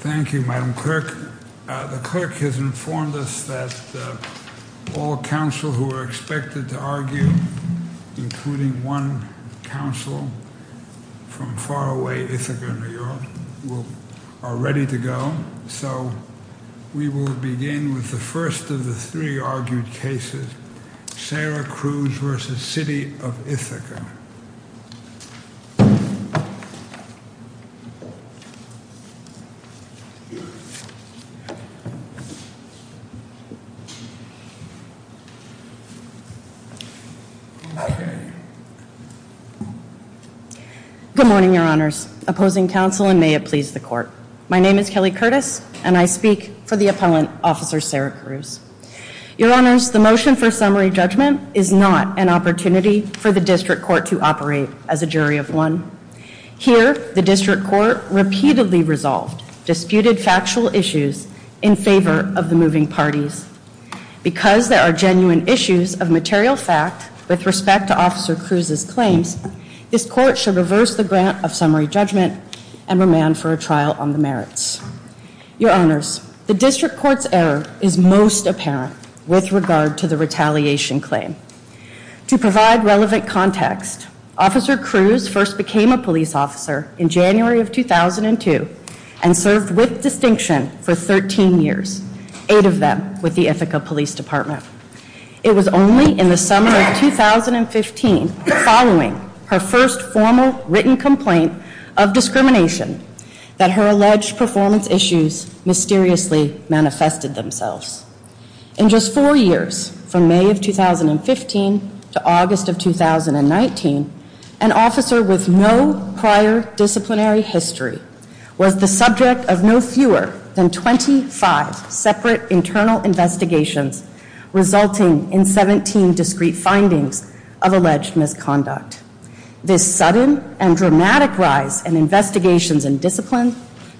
Thank you, Madam Clerk. The Clerk has informed us that all counsel who are expected to argue, including one counsel from far away Ithaca, New York, are ready to go. So we will begin with the first of the three argued cases, Sarah Crews v. City of Ithaca. Good morning, Your Honors. Opposing counsel, and may it please the Court. My name is Kelly Curtis, and I speak for the appellant, Officer Sarah Crews. Your Honors, the motion for summary judgment is not an opportunity for the District Court to operate as a jury of one. Here, the District Court repeatedly resolved disputed factual issues in favor of the moving parties. Because there are genuine issues of material fact with respect to Officer Crews' claims, this Court shall reverse the grant of summary judgment and remand for a trial on the merits. Your Honors, the District Court's error is most apparent with regard to the retaliation claim. To provide relevant context, Officer Crews first became a police officer in January of 2002 and served with distinction for 13 years, eight of them with the Ithaca Police Department. It was only in the summer of 2015, following her first formal written complaint of discrimination, that her alleged performance issues mysteriously manifested themselves. In just four years, from May of 2015 to August of 2019, an officer with no prior disciplinary history was the subject of no fewer than 25 separate internal investigations, resulting in 17 discrete findings of alleged misconduct. This sudden and dramatic rise in investigations and discipline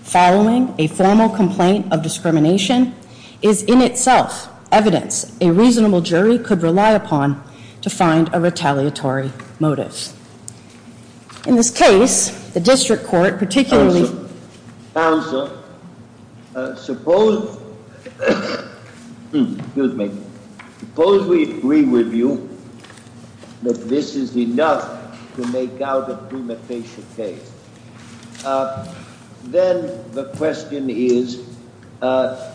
following a formal complaint of discrimination is in itself evidence a reasonable jury could rely upon to find a retaliatory motive. In this case, the District Court particularly... Counsel, counsel, suppose, excuse me, suppose we agree with you that this is enough to make out a premeditation case. Then the question is,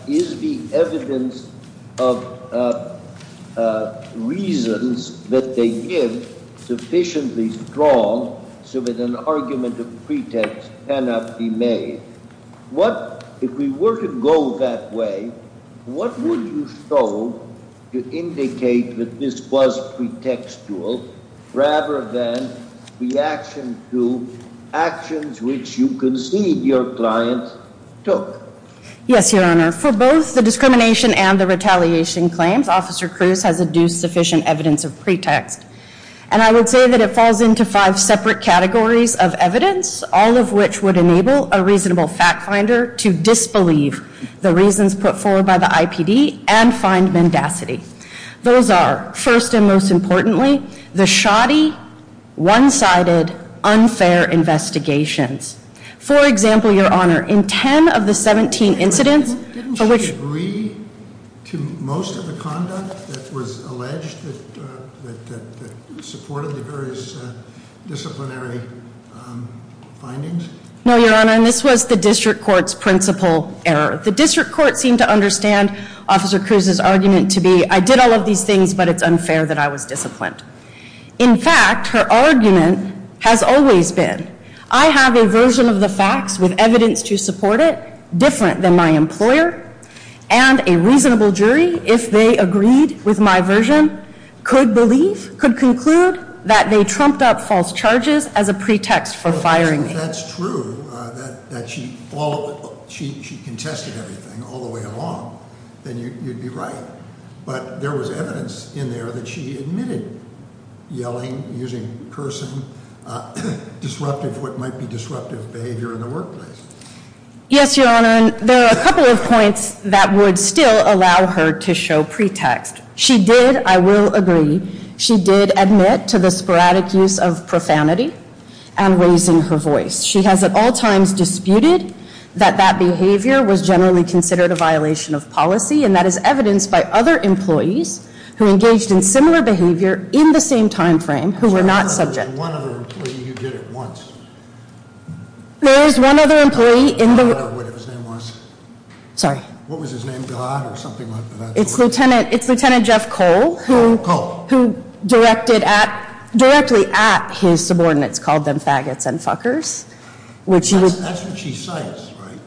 is the evidence of reasons that they give sufficiently strong so that an argument of pretext cannot be made? If we were to go that way, what would you show to indicate that this was pretextual rather than reaction to actions which you concede your client took? Yes, Your Honor. For both the discrimination and the retaliation claims, Officer Cruz has adduced sufficient evidence of pretext. And I would say that it falls into five separate categories of evidence, all of which would enable a reasonable fact finder to disbelieve the reasons put forward by the IPD and find mendacity. Those are, first and most importantly, the shoddy, one-sided, unfair investigations. For example, Your Honor, in ten of the 17 incidents... Didn't she agree to most of the conduct that was alleged that supported the various disciplinary findings? No, Your Honor, and this was the District Court's principal error. The District Court seemed to understand Officer Cruz's argument to be, I did all of these things, but it's unfair that I was disciplined. In fact, her argument has always been, I have a version of the facts with evidence to support it, different than my employer. And a reasonable jury, if they agreed with my version, could believe, could conclude that they trumped up false charges as a pretext for firing me. Well, if that's true, that she followed, she contested everything all the way along, then you'd be right. But there was evidence in there that she admitted yelling, using cursing, disruptive, what might be disruptive behavior in the workplace. Yes, Your Honor, and there are a couple of points that would still allow her to show pretext. She did, I will agree, she did admit to the sporadic use of profanity and raising her voice. She has at all times disputed that that behavior was generally considered a violation of policy. And that is evidenced by other employees who engaged in similar behavior in the same time frame, who were not subject. There's one other employee who did it once. There is one other employee in the- I don't know what his name was. Sorry. What was his name, God, or something like that? It's Lieutenant Jeff Cole. Cole. Who directed at, directly at his subordinates, called them faggots and fuckers. That's what she cites, right?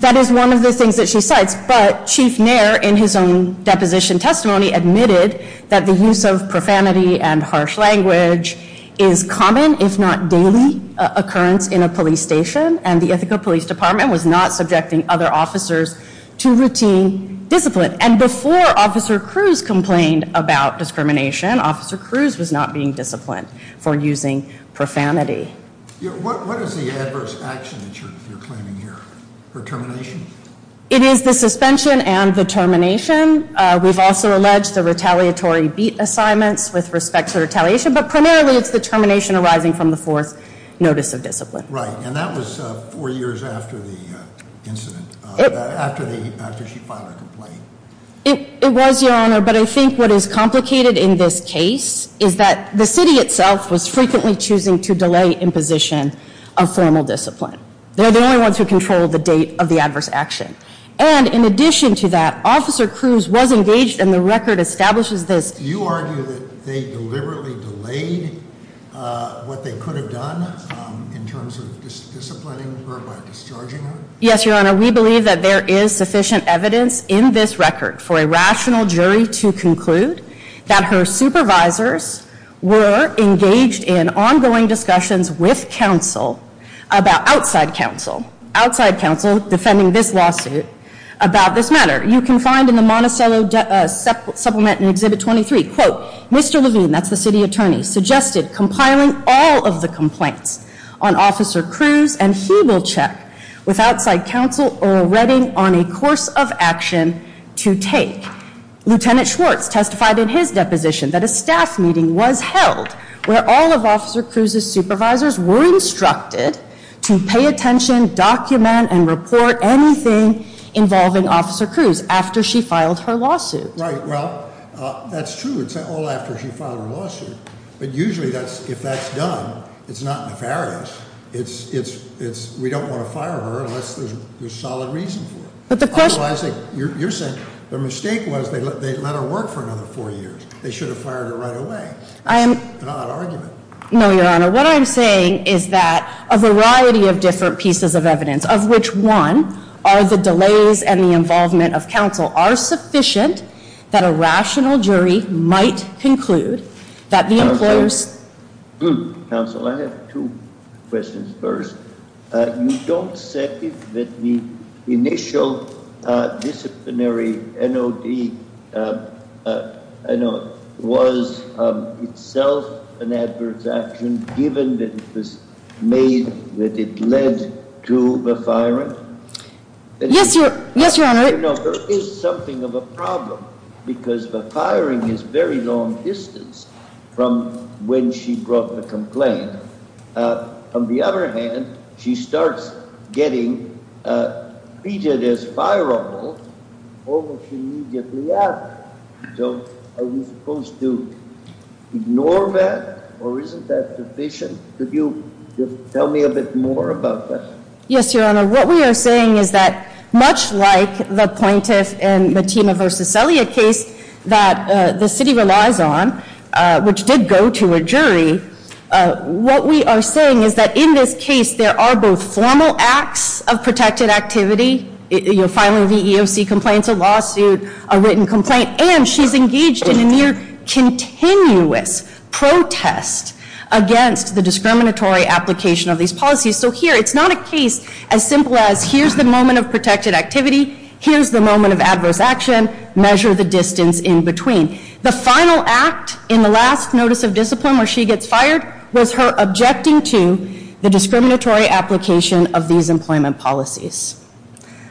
That is one of the things that she cites. But Chief Nair, in his own deposition testimony, admitted that the use of profanity and harsh language is common, if not daily, occurrence in a police station. And the Ithaca Police Department was not subjecting other officers to routine discipline. And before Officer Cruz complained about discrimination, Officer Cruz was not being disciplined for using profanity. What is the adverse action that you're claiming here, her termination? It is the suspension and the termination. We've also alleged the retaliatory beat assignments with respect to retaliation. But primarily, it's the termination arising from the fourth notice of discipline. Right, and that was four years after the incident, after she filed a complaint. It was, Your Honor, but I think what is complicated in this case is that the city itself was frequently choosing to delay imposition of formal discipline. They're the only ones who control the date of the adverse action. And in addition to that, Officer Cruz was engaged, and the record establishes this. You argue that they deliberately delayed what they could have done in terms of disciplining her by discharging her? Yes, Your Honor. We believe that there is sufficient evidence in this record for a rational jury to conclude that her supervisors were engaged in ongoing discussions with counsel about outside counsel. Outside counsel defending this lawsuit about this matter. You can find in the Monticello Supplement in Exhibit 23, quote, Mr. Levine, that's the city attorney, suggested compiling all of the complaints on Officer Cruz, and he will check with outside counsel already on a course of action to take. Lieutenant Schwartz testified in his deposition that a staff meeting was held where all of Officer Cruz's supervisors were instructed to pay attention, document, and report anything involving Officer Cruz after she filed her lawsuit. Right, well, that's true. It's all after she filed her lawsuit. But usually, if that's done, it's not nefarious. We don't want to fire her unless there's solid reason for it. Otherwise, you're saying the mistake was they let her work for another four years. They should have fired her right away. It's not an argument. No, Your Honor, what I'm saying is that a variety of different pieces of evidence, of which one are the delays and the involvement of counsel, are sufficient that a rational jury might conclude that the employers Counsel, I have two questions. First, you don't say that the initial disciplinary NOD was itself an adverse action given that it was made, that it led to the firing? Yes, Your Honor. There is something of a problem because the firing is very long distance from when she brought the complaint. On the other hand, she starts getting treated as fireable almost immediately after. So are we supposed to ignore that? Or isn't that sufficient? Could you tell me a bit more about that? Yes, Your Honor. What we are saying is that much like the plaintiff in the Tima v. Celia case that the city relies on, which did go to a jury, what we are saying is that in this case there are both formal acts of protected activity, filing the EEOC complaints, a lawsuit, a written complaint, and she's engaged in a near-continuous protest against the discriminatory application of these policies. So here, it's not a case as simple as here's the moment of protected activity, here's the moment of adverse action, measure the distance in between. The final act in the last notice of discipline where she gets fired was her objecting to the discriminatory application of these employment policies.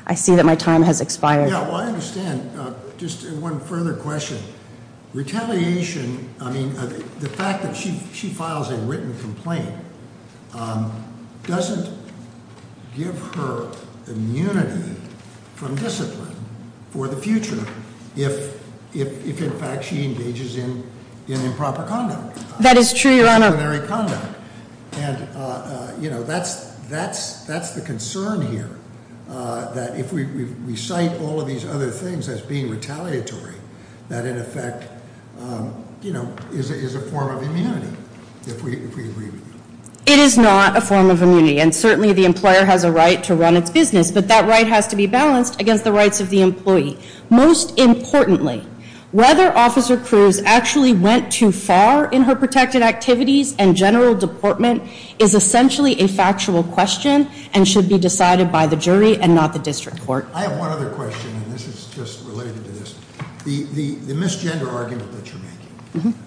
I see that my time has expired. Yeah, well, I understand. Just one further question. Retaliation, I mean, the fact that she files a written complaint doesn't give her immunity from discipline for the future if in fact she engages in improper conduct. That is true, Your Honor. And that's the concern here. That if we recite all of these other things as being retaliatory, that in effect is a form of immunity, if we agree with you. It is not a form of immunity, and certainly the employer has a right to run its business. But that right has to be balanced against the rights of the employee. Most importantly, whether Officer Cruz actually went too far in her protected activities and general deportment is essentially a factual question and should be decided by the jury and not the district court. I have one other question, and this is just related to this. The misgender argument that you're making,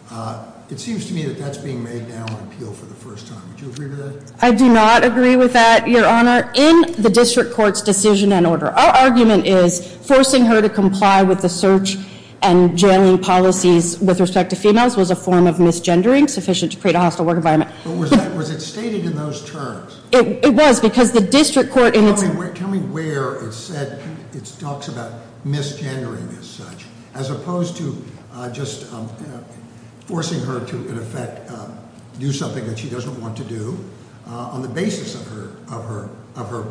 it seems to me that that's being made now on appeal for the first time. Would you agree to that? I do not agree with that, Your Honor. In the district court's decision and order, our argument is forcing her to comply with the search and jamming policies with respect to females was a form of misgendering sufficient to create a hostile work environment. But was it stated in those terms? It was, because the district court in its- Tell me where it said, it talks about misgendering as such, as opposed to just forcing her to, in effect, do something that she doesn't want to do on the basis of her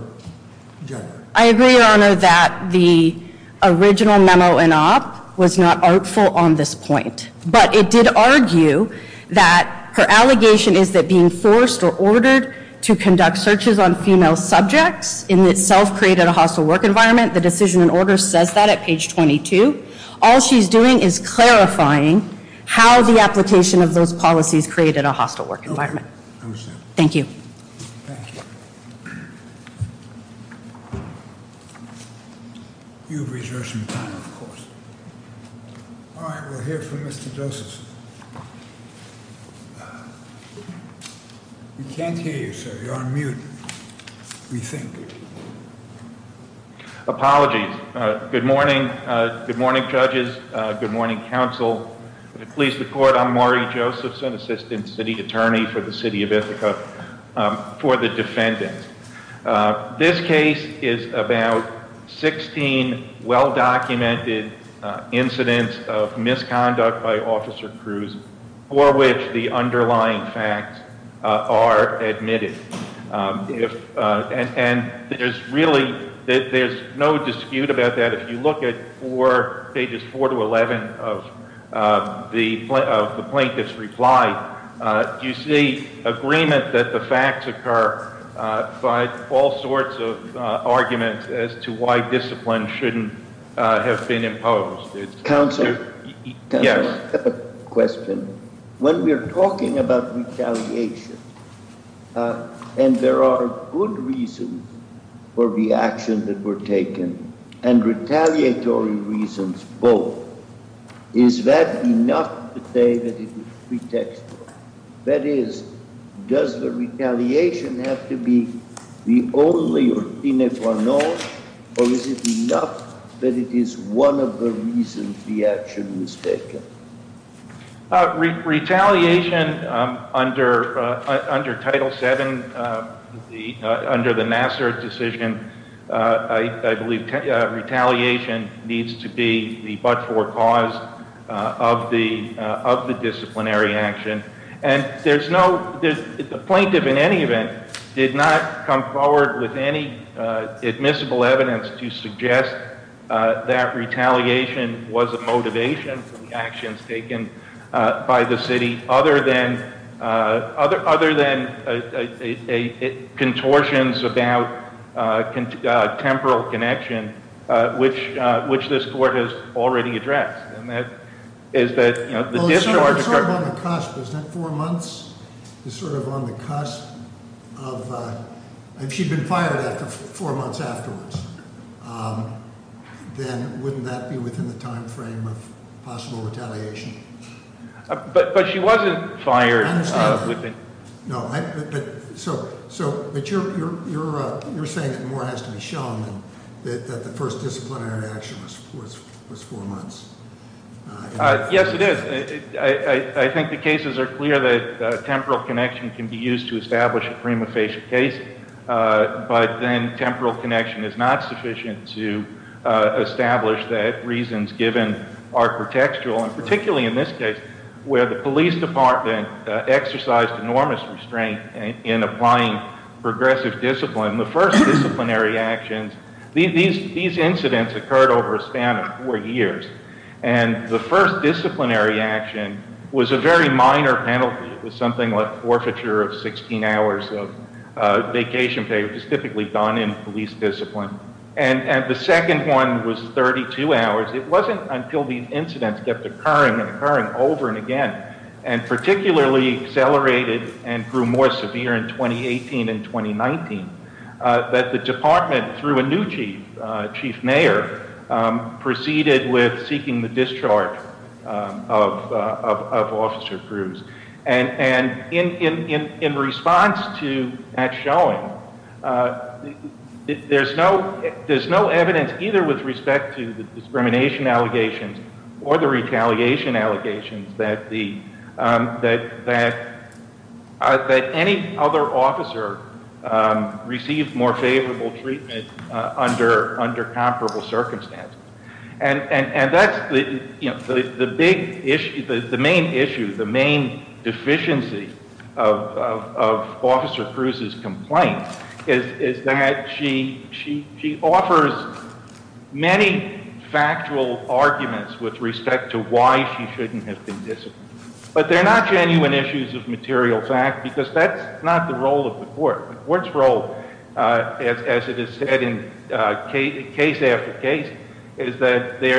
gender. I agree, Your Honor, that the original memo and op was not artful on this point. But it did argue that her allegation is that being forced or ordered to conduct searches on female subjects in itself created a hostile work environment. The decision and order says that at page 22. All she's doing is clarifying how the application of those policies created a hostile work environment. Thank you. You've reserved some time, of course. All right, we'll hear from Mr. Josephson. We can't hear you, sir, you're on mute, we think. Apologies, good morning, good morning, judges, good morning, counsel, the police, the court, I'm Maury Josephson, assistant city attorney for the city of Ithaca, for the defendant. This case is about 16 well-documented incidents of misconduct by Officer Cruz for which the underlying facts are admitted. And there's really, there's no dispute about that. If you look at pages 4 to 11 of the plaintiff's reply, you see agreement that the facts occur by all sorts of arguments as to why discipline shouldn't have been imposed. Counsel? Yes. Question, when we're talking about retaliation, and there are good reasons for the action that were taken, and retaliatory reasons both, is that enough to say that it was pretextual? That is, does the retaliation have to be the only or the only reason that the action was taken? Retaliation under Title VII, under the Nassar decision, I believe retaliation needs to be the but-for cause of the disciplinary action. And the plaintiff, in any event, did not come forward with any admissible evidence to suggest that retaliation was a motivation for the actions taken by the city, other than contortions about temporal connection, which this court has already addressed. And that is that the discharge- Sort of on the cusp, isn't that four months? Is sort of on the cusp of, if she'd been fired after four months afterwards, then wouldn't that be within the time frame of possible retaliation? But she wasn't fired- I understand that. No, but so, but you're saying that more has to be shown that the first disciplinary action was four months. Yes, it is. I think the cases are clear that temporal connection can be used to establish a prima facie case, but then temporal connection is not sufficient to establish that reasons given are contextual, and particularly in this case, where the police department exercised enormous restraint in applying progressive discipline, the first disciplinary actions, these incidents occurred over a span of four years. And the first disciplinary action was a very minor penalty, it was something like forfeiture of 16 hours of vacation pay, which is typically gone in police discipline. And the second one was 32 hours. It wasn't until these incidents kept occurring and occurring over and again, and particularly accelerated and grew more severe in 2018 and 2019. That the department, through a new chief, chief mayor, proceeded with seeking the discharge of officer Cruz. And in response to that showing, there's no evidence either with respect to the discrimination allegations or the retaliation allegations that any other officer received more favorable treatment under comparable circumstances. And that's the main issue, the main deficiency of Officer Cruz's complaint, is that she offers many factual arguments with respect to why she shouldn't have been disciplined. But they're not genuine issues of material fact, because that's not the role of the court. The court's role, as it is said in case after case, is that the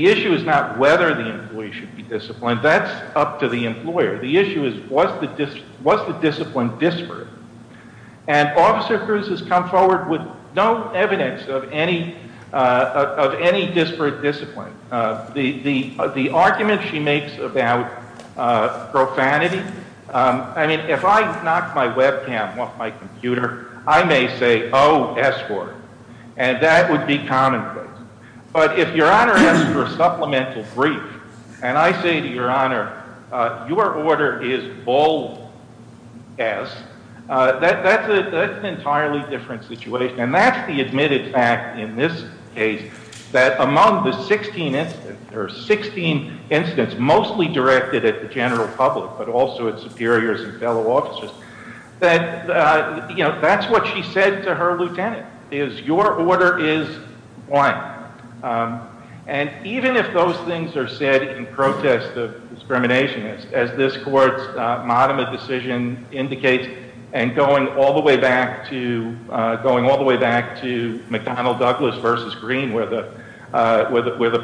issue is not whether the employee should be disciplined. That's up to the employer. The issue is, was the discipline disparate? And Officer Cruz has come forward with no evidence of any disparate discipline. The argument she makes about profanity, I mean, if I knock my webcam off my computer, I may say, escort. And that would be commonplace. But if your honor asks for a supplemental brief, and I say to your honor, your order is bold, yes, that's an entirely different situation. And that's the admitted fact in this case, that among the 16 incidents, there are 16 incidents mostly directed at the general public, but also at superiors and fellow officers, that's what she said to her lieutenant, is your order is one. And even if those things are said in protest of discrimination, as this court's modem of decision indicates, and going all the way back to McDonnell Douglas versus Green, where the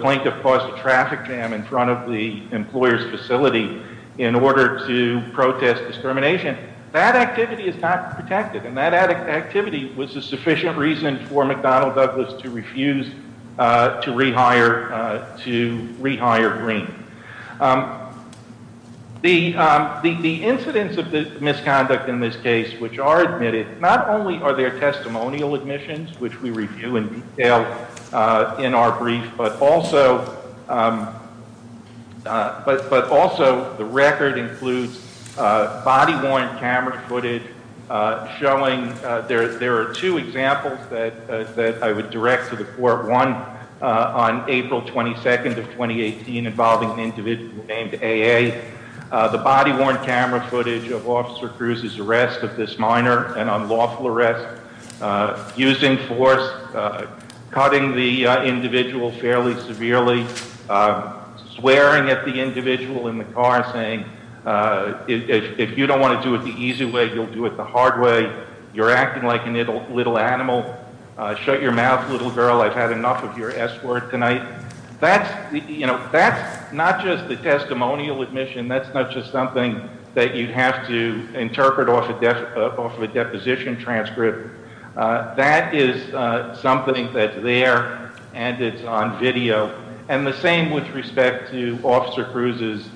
plaintiff caused a traffic jam in front of the employer's facility in order to protest discrimination, that activity is not protected. And that activity was a sufficient reason for McDonnell Douglas to refuse to rehire Green. The incidents of the misconduct in this case which are admitted, not only are there testimonial admissions, which we review in detail in our brief, but also the record includes body worn camera footage showing, there are two examples that I would direct to the court, one on April 22nd of 2018, involving an individual named AA, the body worn camera footage of Officer Cruz's arrest of this minor, an unlawful arrest, using force, cutting the individual fairly severely, swearing at the individual in the car saying, if you don't want to do it the easy way, you'll do it the hard way, you're acting like a little animal, shut your mouth little girl, I've had enough of your S word tonight, that's not just the testimonial admission, that's not just something that you'd have to interpret off of a deposition transcript. That is something that's there and it's on video. And the same with respect to Officer Cruz's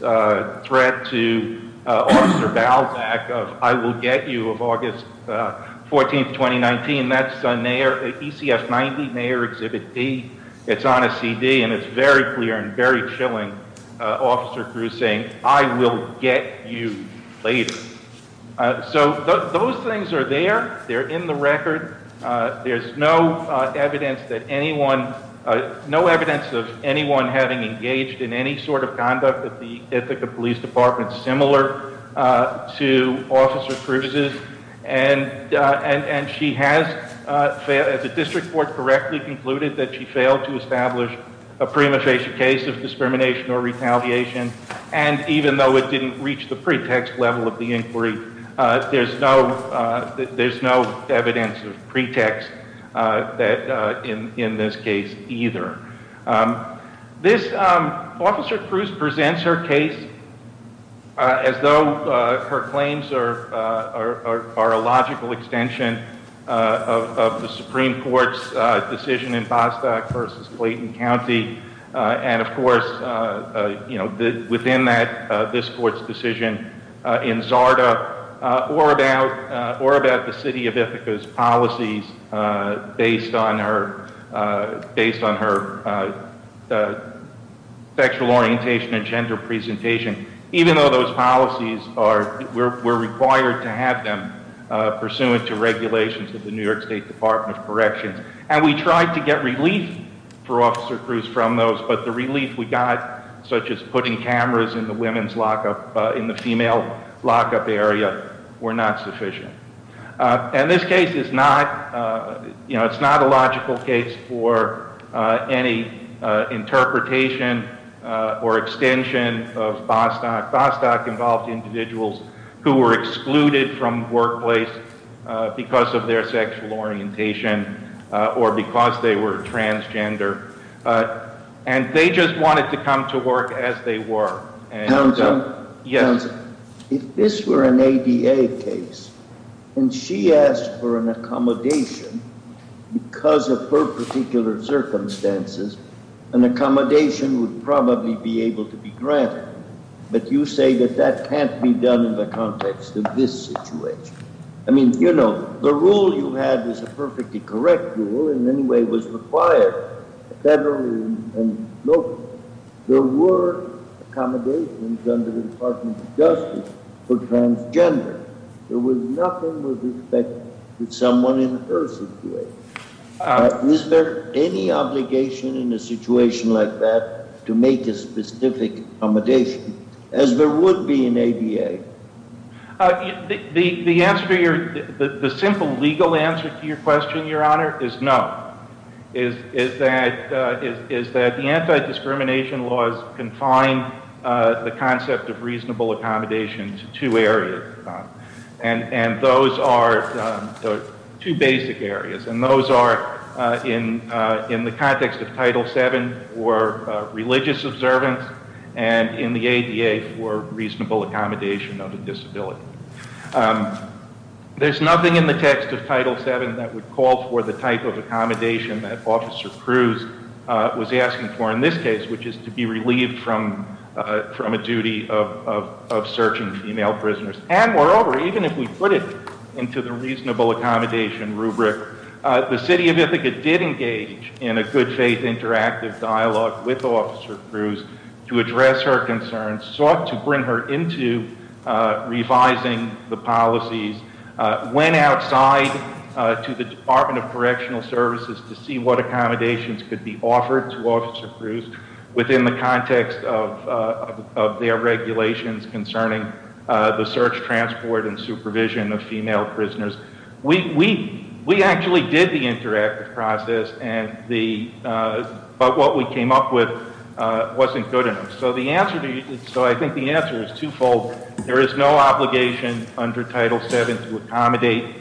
threat to Officer Balzac of I will get you of August 14th, 2019. That's ECF 90, Mayor Exhibit D, it's on a CD and it's very clear and very chilling, Officer Cruz saying, I will get you later. So those things are there, they're in the record, there's no evidence that anyone, no evidence of anyone having engaged in any sort of conduct at the Ithaca Police Department, similar to Officer Cruz's. And she has, the district court correctly concluded that she failed to establish a prima facie case of discrimination or retaliation. And even though it didn't reach the pretext level of the inquiry, there's no evidence of pretext in this case either. This, Officer Cruz presents her case as though her claims are a logical extension of the Supreme Court's decision in Balzac versus Clayton County. And of course, within that, this court's decision in Zarda, or about the city of Ithaca's policies based on her sexual orientation and gender presentation. Even though those policies are, we're required to have them pursuant to regulations of the New York State Department of Corrections. And we tried to get relief for Officer Cruz from those, but the relief we got, such as putting cameras in the women's lockup, in the female lockup area, were not sufficient. And this case is not, it's not a logical case for any interpretation or extension of Bostock. Bostock involved individuals who were excluded from workplace because of their sexual orientation, or because they were transgender. And they just wanted to come to work as they were. And- Yes. If this were an ADA case, and she asked for an accommodation, because of her particular circumstances, an accommodation would probably be able to be granted. But you say that that can't be done in the context of this situation. I mean, you know, the rule you had was a perfectly correct rule, in any way was required. Federal and local. There were accommodations under the Department of Justice for transgender. There was nothing with respect to someone in her situation. Is there any obligation in a situation like that to make a specific accommodation, as there would be in ADA? The answer to your, the simple legal answer to your question, Your Honor, is no. Is that the anti-discrimination laws confine the concept of reasonable accommodation to two areas. And those are the two basic areas. And those are in the context of Title VII for religious observance, and in the ADA for reasonable accommodation of a disability. There's nothing in the text of Title VII that would call for the type of accommodation that Officer Cruz was asking for in this case, which is to be relieved from a duty of searching female prisoners. And moreover, even if we put it into the reasonable accommodation rubric, the City of Ithaca did engage in a good faith interactive dialogue with Officer Cruz to address her concerns, sought to bring her into revising the policies. Went outside to the Department of Correctional Services to see what accommodations could be offered to Officer Cruz within the context of their regulations concerning the search, transport, and supervision of female prisoners. We actually did the interactive process, but what we came up with wasn't good enough. So I think the answer is twofold. There is no obligation under Title VII to accommodate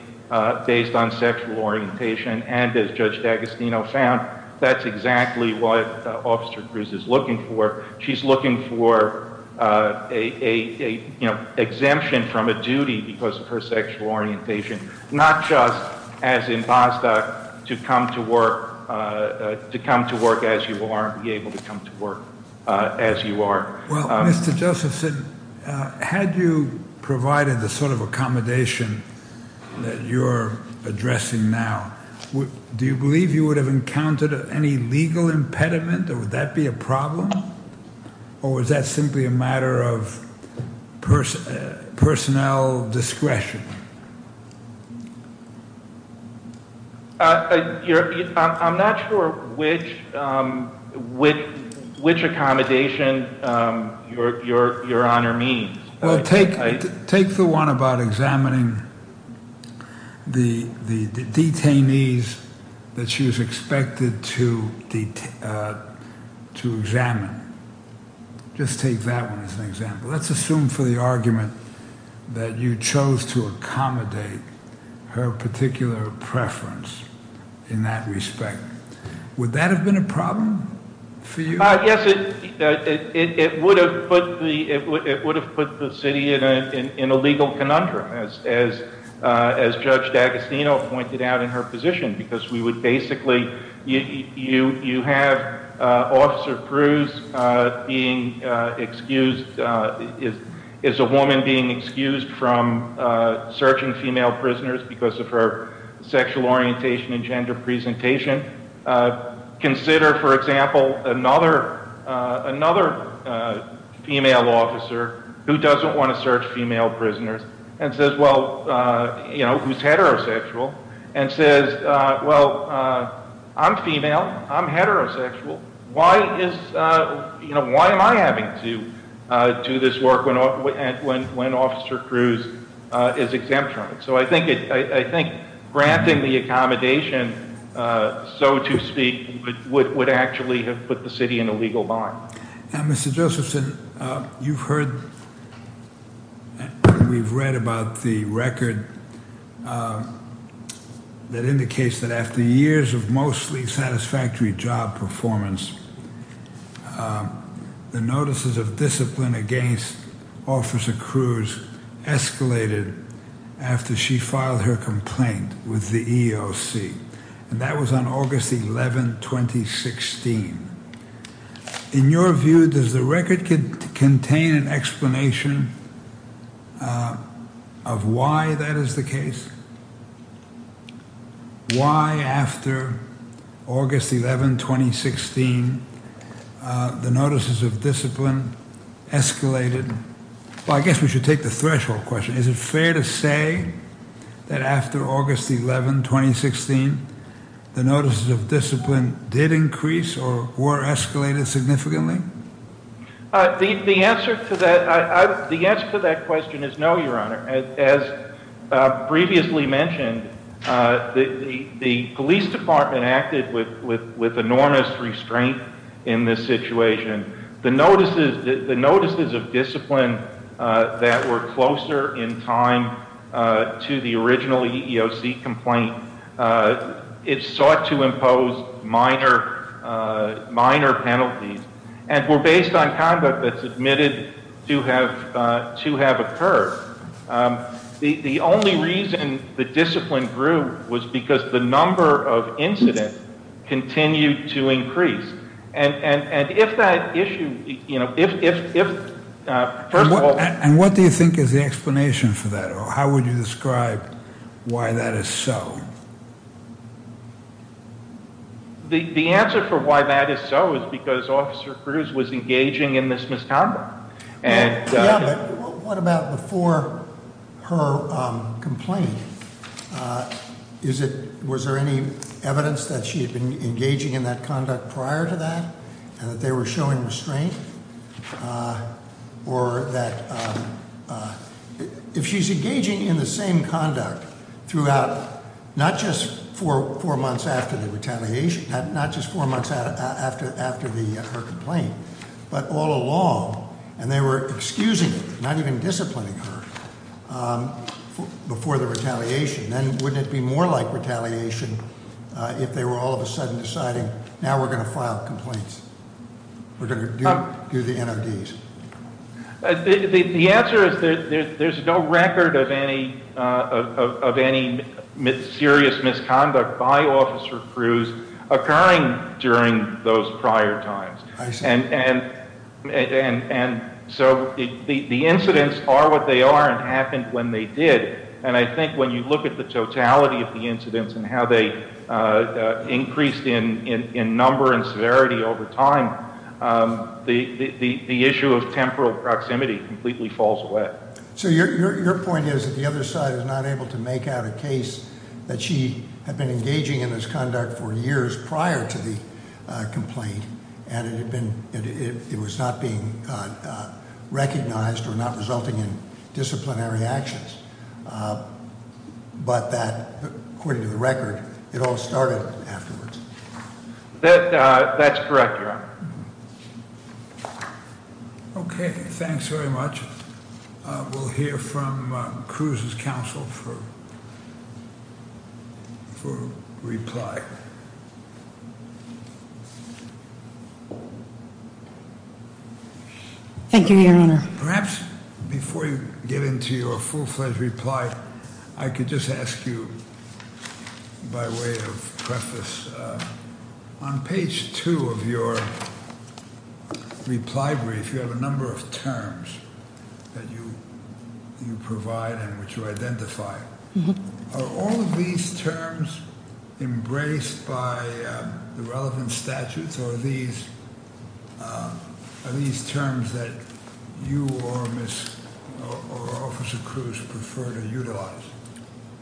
based on sexual orientation. And as Judge D'Agostino found, that's exactly what Officer Cruz is looking for. She's looking for a exemption from a duty because of her sexual orientation. Not just as in Bostock, to come to work as you are, be able to come to work as you are. Well, Mr. Josephson, had you provided the sort of accommodation that you're addressing now, do you believe you would have encountered any legal impediment, or would that be a problem? Or was that simply a matter of personnel discretion? I'm not sure which accommodation your honor means. Well, take the one about examining the detainees that she was expected to examine. Just take that one as an example. Let's assume for the argument that you chose to accommodate her particular preference in that respect. Would that have been a problem for you? Yes, it would have put the city in a legal conundrum, as Judge D'Agostino pointed out in her position. Because we would basically, you have Officer Cruz being excused, is a woman being excused from searching female prisoners because of her sexual orientation and gender presentation. Consider, for example, another female officer who doesn't want to search female prisoners. And says, well, who's heterosexual. And says, well, I'm female, I'm heterosexual. Why am I having to do this work when Officer Cruz is exempt from it? So I think granting the accommodation, so to speak, would actually have put the city in a legal bind. Now, Mr. Josephson, you've heard and we've read about the record that indicates that after years of mostly satisfactory job performance, the notices of discipline against Officer Cruz escalated after she filed her complaint with the EEOC. And that was on August 11, 2016. In your view, does the record contain an explanation of why that is the case? Why after August 11, 2016, the notices of discipline escalated? Well, I guess we should take the threshold question. Is it fair to say that after August 11, 2016, the notices of discipline did increase or were escalated significantly? The answer to that question is no, Your Honor. As previously mentioned, the police department acted with enormous restraint in this situation. The notices of discipline that were closer in time to the original EEOC complaint, it sought to impose minor penalties. And were based on conduct that's admitted to have occurred. The only reason the discipline grew was because the number of incidents continued to increase. And if that issue, if, first of all- And what do you think is the explanation for that? Or how would you describe why that is so? The answer for why that is so is because Officer Cruz was engaging in this misconduct. And- Yeah, but what about before her complaint? Is it, was there any evidence that she had been engaging in that conduct prior to that? And that they were showing restraint? Or that, if she's engaging in the same conduct throughout, not just four months after the retaliation, not just four months after her complaint, but all along. And they were excusing her, not even disciplining her, before the retaliation. Then wouldn't it be more like retaliation if they were all of a sudden deciding, now we're going to file complaints. We're going to do the NRDs. The answer is that there's no record of any serious misconduct by Officer Cruz occurring during those prior times. And so the incidents are what they are and happened when they did. And I think when you look at the totality of the incidents and how they increased in number and the temporal proximity completely falls away. So your point is that the other side is not able to make out a case that she had been engaging in this conduct for years prior to the complaint and it was not being recognized or not resulting in disciplinary actions. But that, according to the record, it all started afterwards. That's correct, Your Honor. Okay, thanks very much. We'll hear from Cruz's counsel for reply. Thank you, Your Honor. Perhaps before you get into your full-fledged reply, I could just ask you, by way of preface, on page two of your reply brief, you have a number of terms that you provide and which you identify. Are all of these terms embraced by the relevant statutes? Or are these terms that you or Miss, or Officer Cruz prefer to utilize?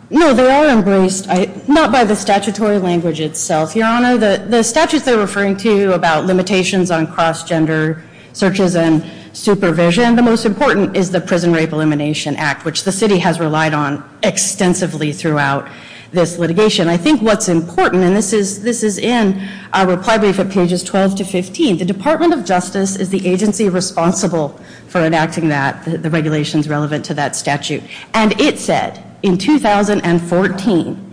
No, they are embraced, not by the statutory language itself, Your Honor. The statutes they're referring to about limitations on cross-gender searches and supervision. The most important is the Prison Rape Elimination Act, which the city has relied on extensively throughout this litigation. I think what's important, and this is in our reply brief at pages 12 to 15. The Department of Justice is the agency responsible for enacting that, the regulations relevant to that statute. And it said, in 2014,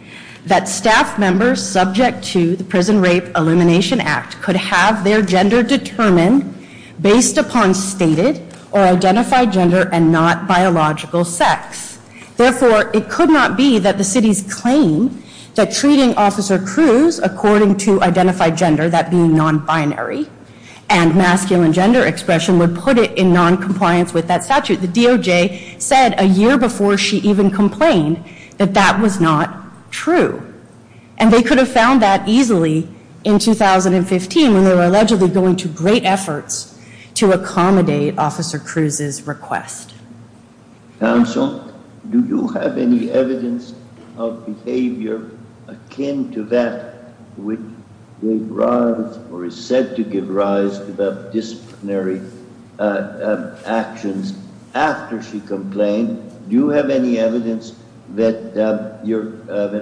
that staff members subject to the Prison Rape Elimination Act could have their gender determined based upon stated or identified gender and not biological sex. Therefore, it could not be that the city's claim that treating Officer Cruz according to identified gender, that being non-binary, and masculine gender expression would put it in non-compliance with that statute. The DOJ said a year before she even complained that that was not true. And they could have found that easily in 2015 when they were allegedly going to great efforts to accommodate Officer Cruz's request. Counsel, do you have any evidence of behavior akin to that which gave rise or is said to give rise to the disciplinary actions after she complained? Do you have any evidence that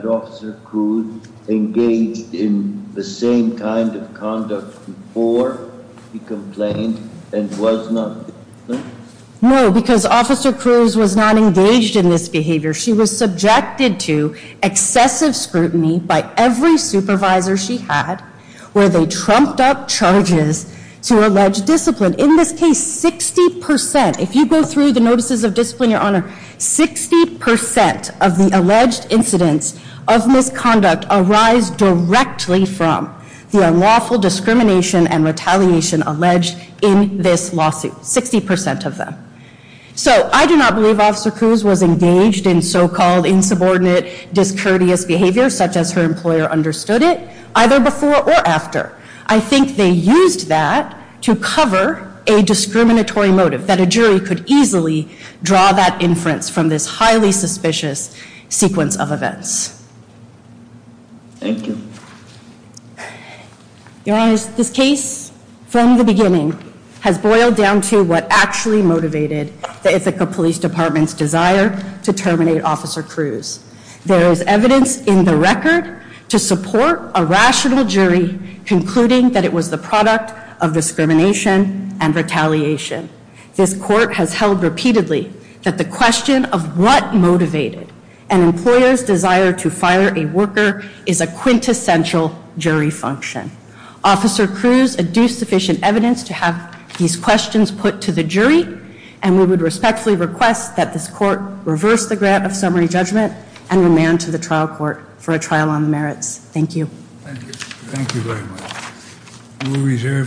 Officer Cruz engaged in the same kind of conduct before he complained and was not disciplined? No, because Officer Cruz was not engaged in this behavior. She was subjected to excessive scrutiny by every supervisor she had, where they trumped up charges to allege discipline. In this case, 60%, if you go through the notices of discipline, Your Honor, 60% of the alleged incidents of misconduct arise directly from the unlawful discrimination and retaliation alleged in this lawsuit, 60% of them. So I do not believe Officer Cruz was engaged in so-called insubordinate, discourteous behavior such as her employer understood it, either before or after. I think they used that to cover a discriminatory motive, that a jury could easily draw that inference from this highly suspicious sequence of events. Thank you. Your Honor, this case, from the beginning, has boiled down to what actually motivated the Ithaca Police Department's desire to terminate Officer Cruz. There is evidence in the record to support a rational jury concluding that it was the product of discrimination and retaliation. This court has held repeatedly that the question of what motivated an employer's desire to fire a worker is a quintessential jury function. Officer Cruz adduced sufficient evidence to have these questions put to the jury. And we would respectfully request that this court reverse the grant of summary judgment and remand to the trial court for a trial on the merits. Thank you. Thank you. Thank you very much. We will reserve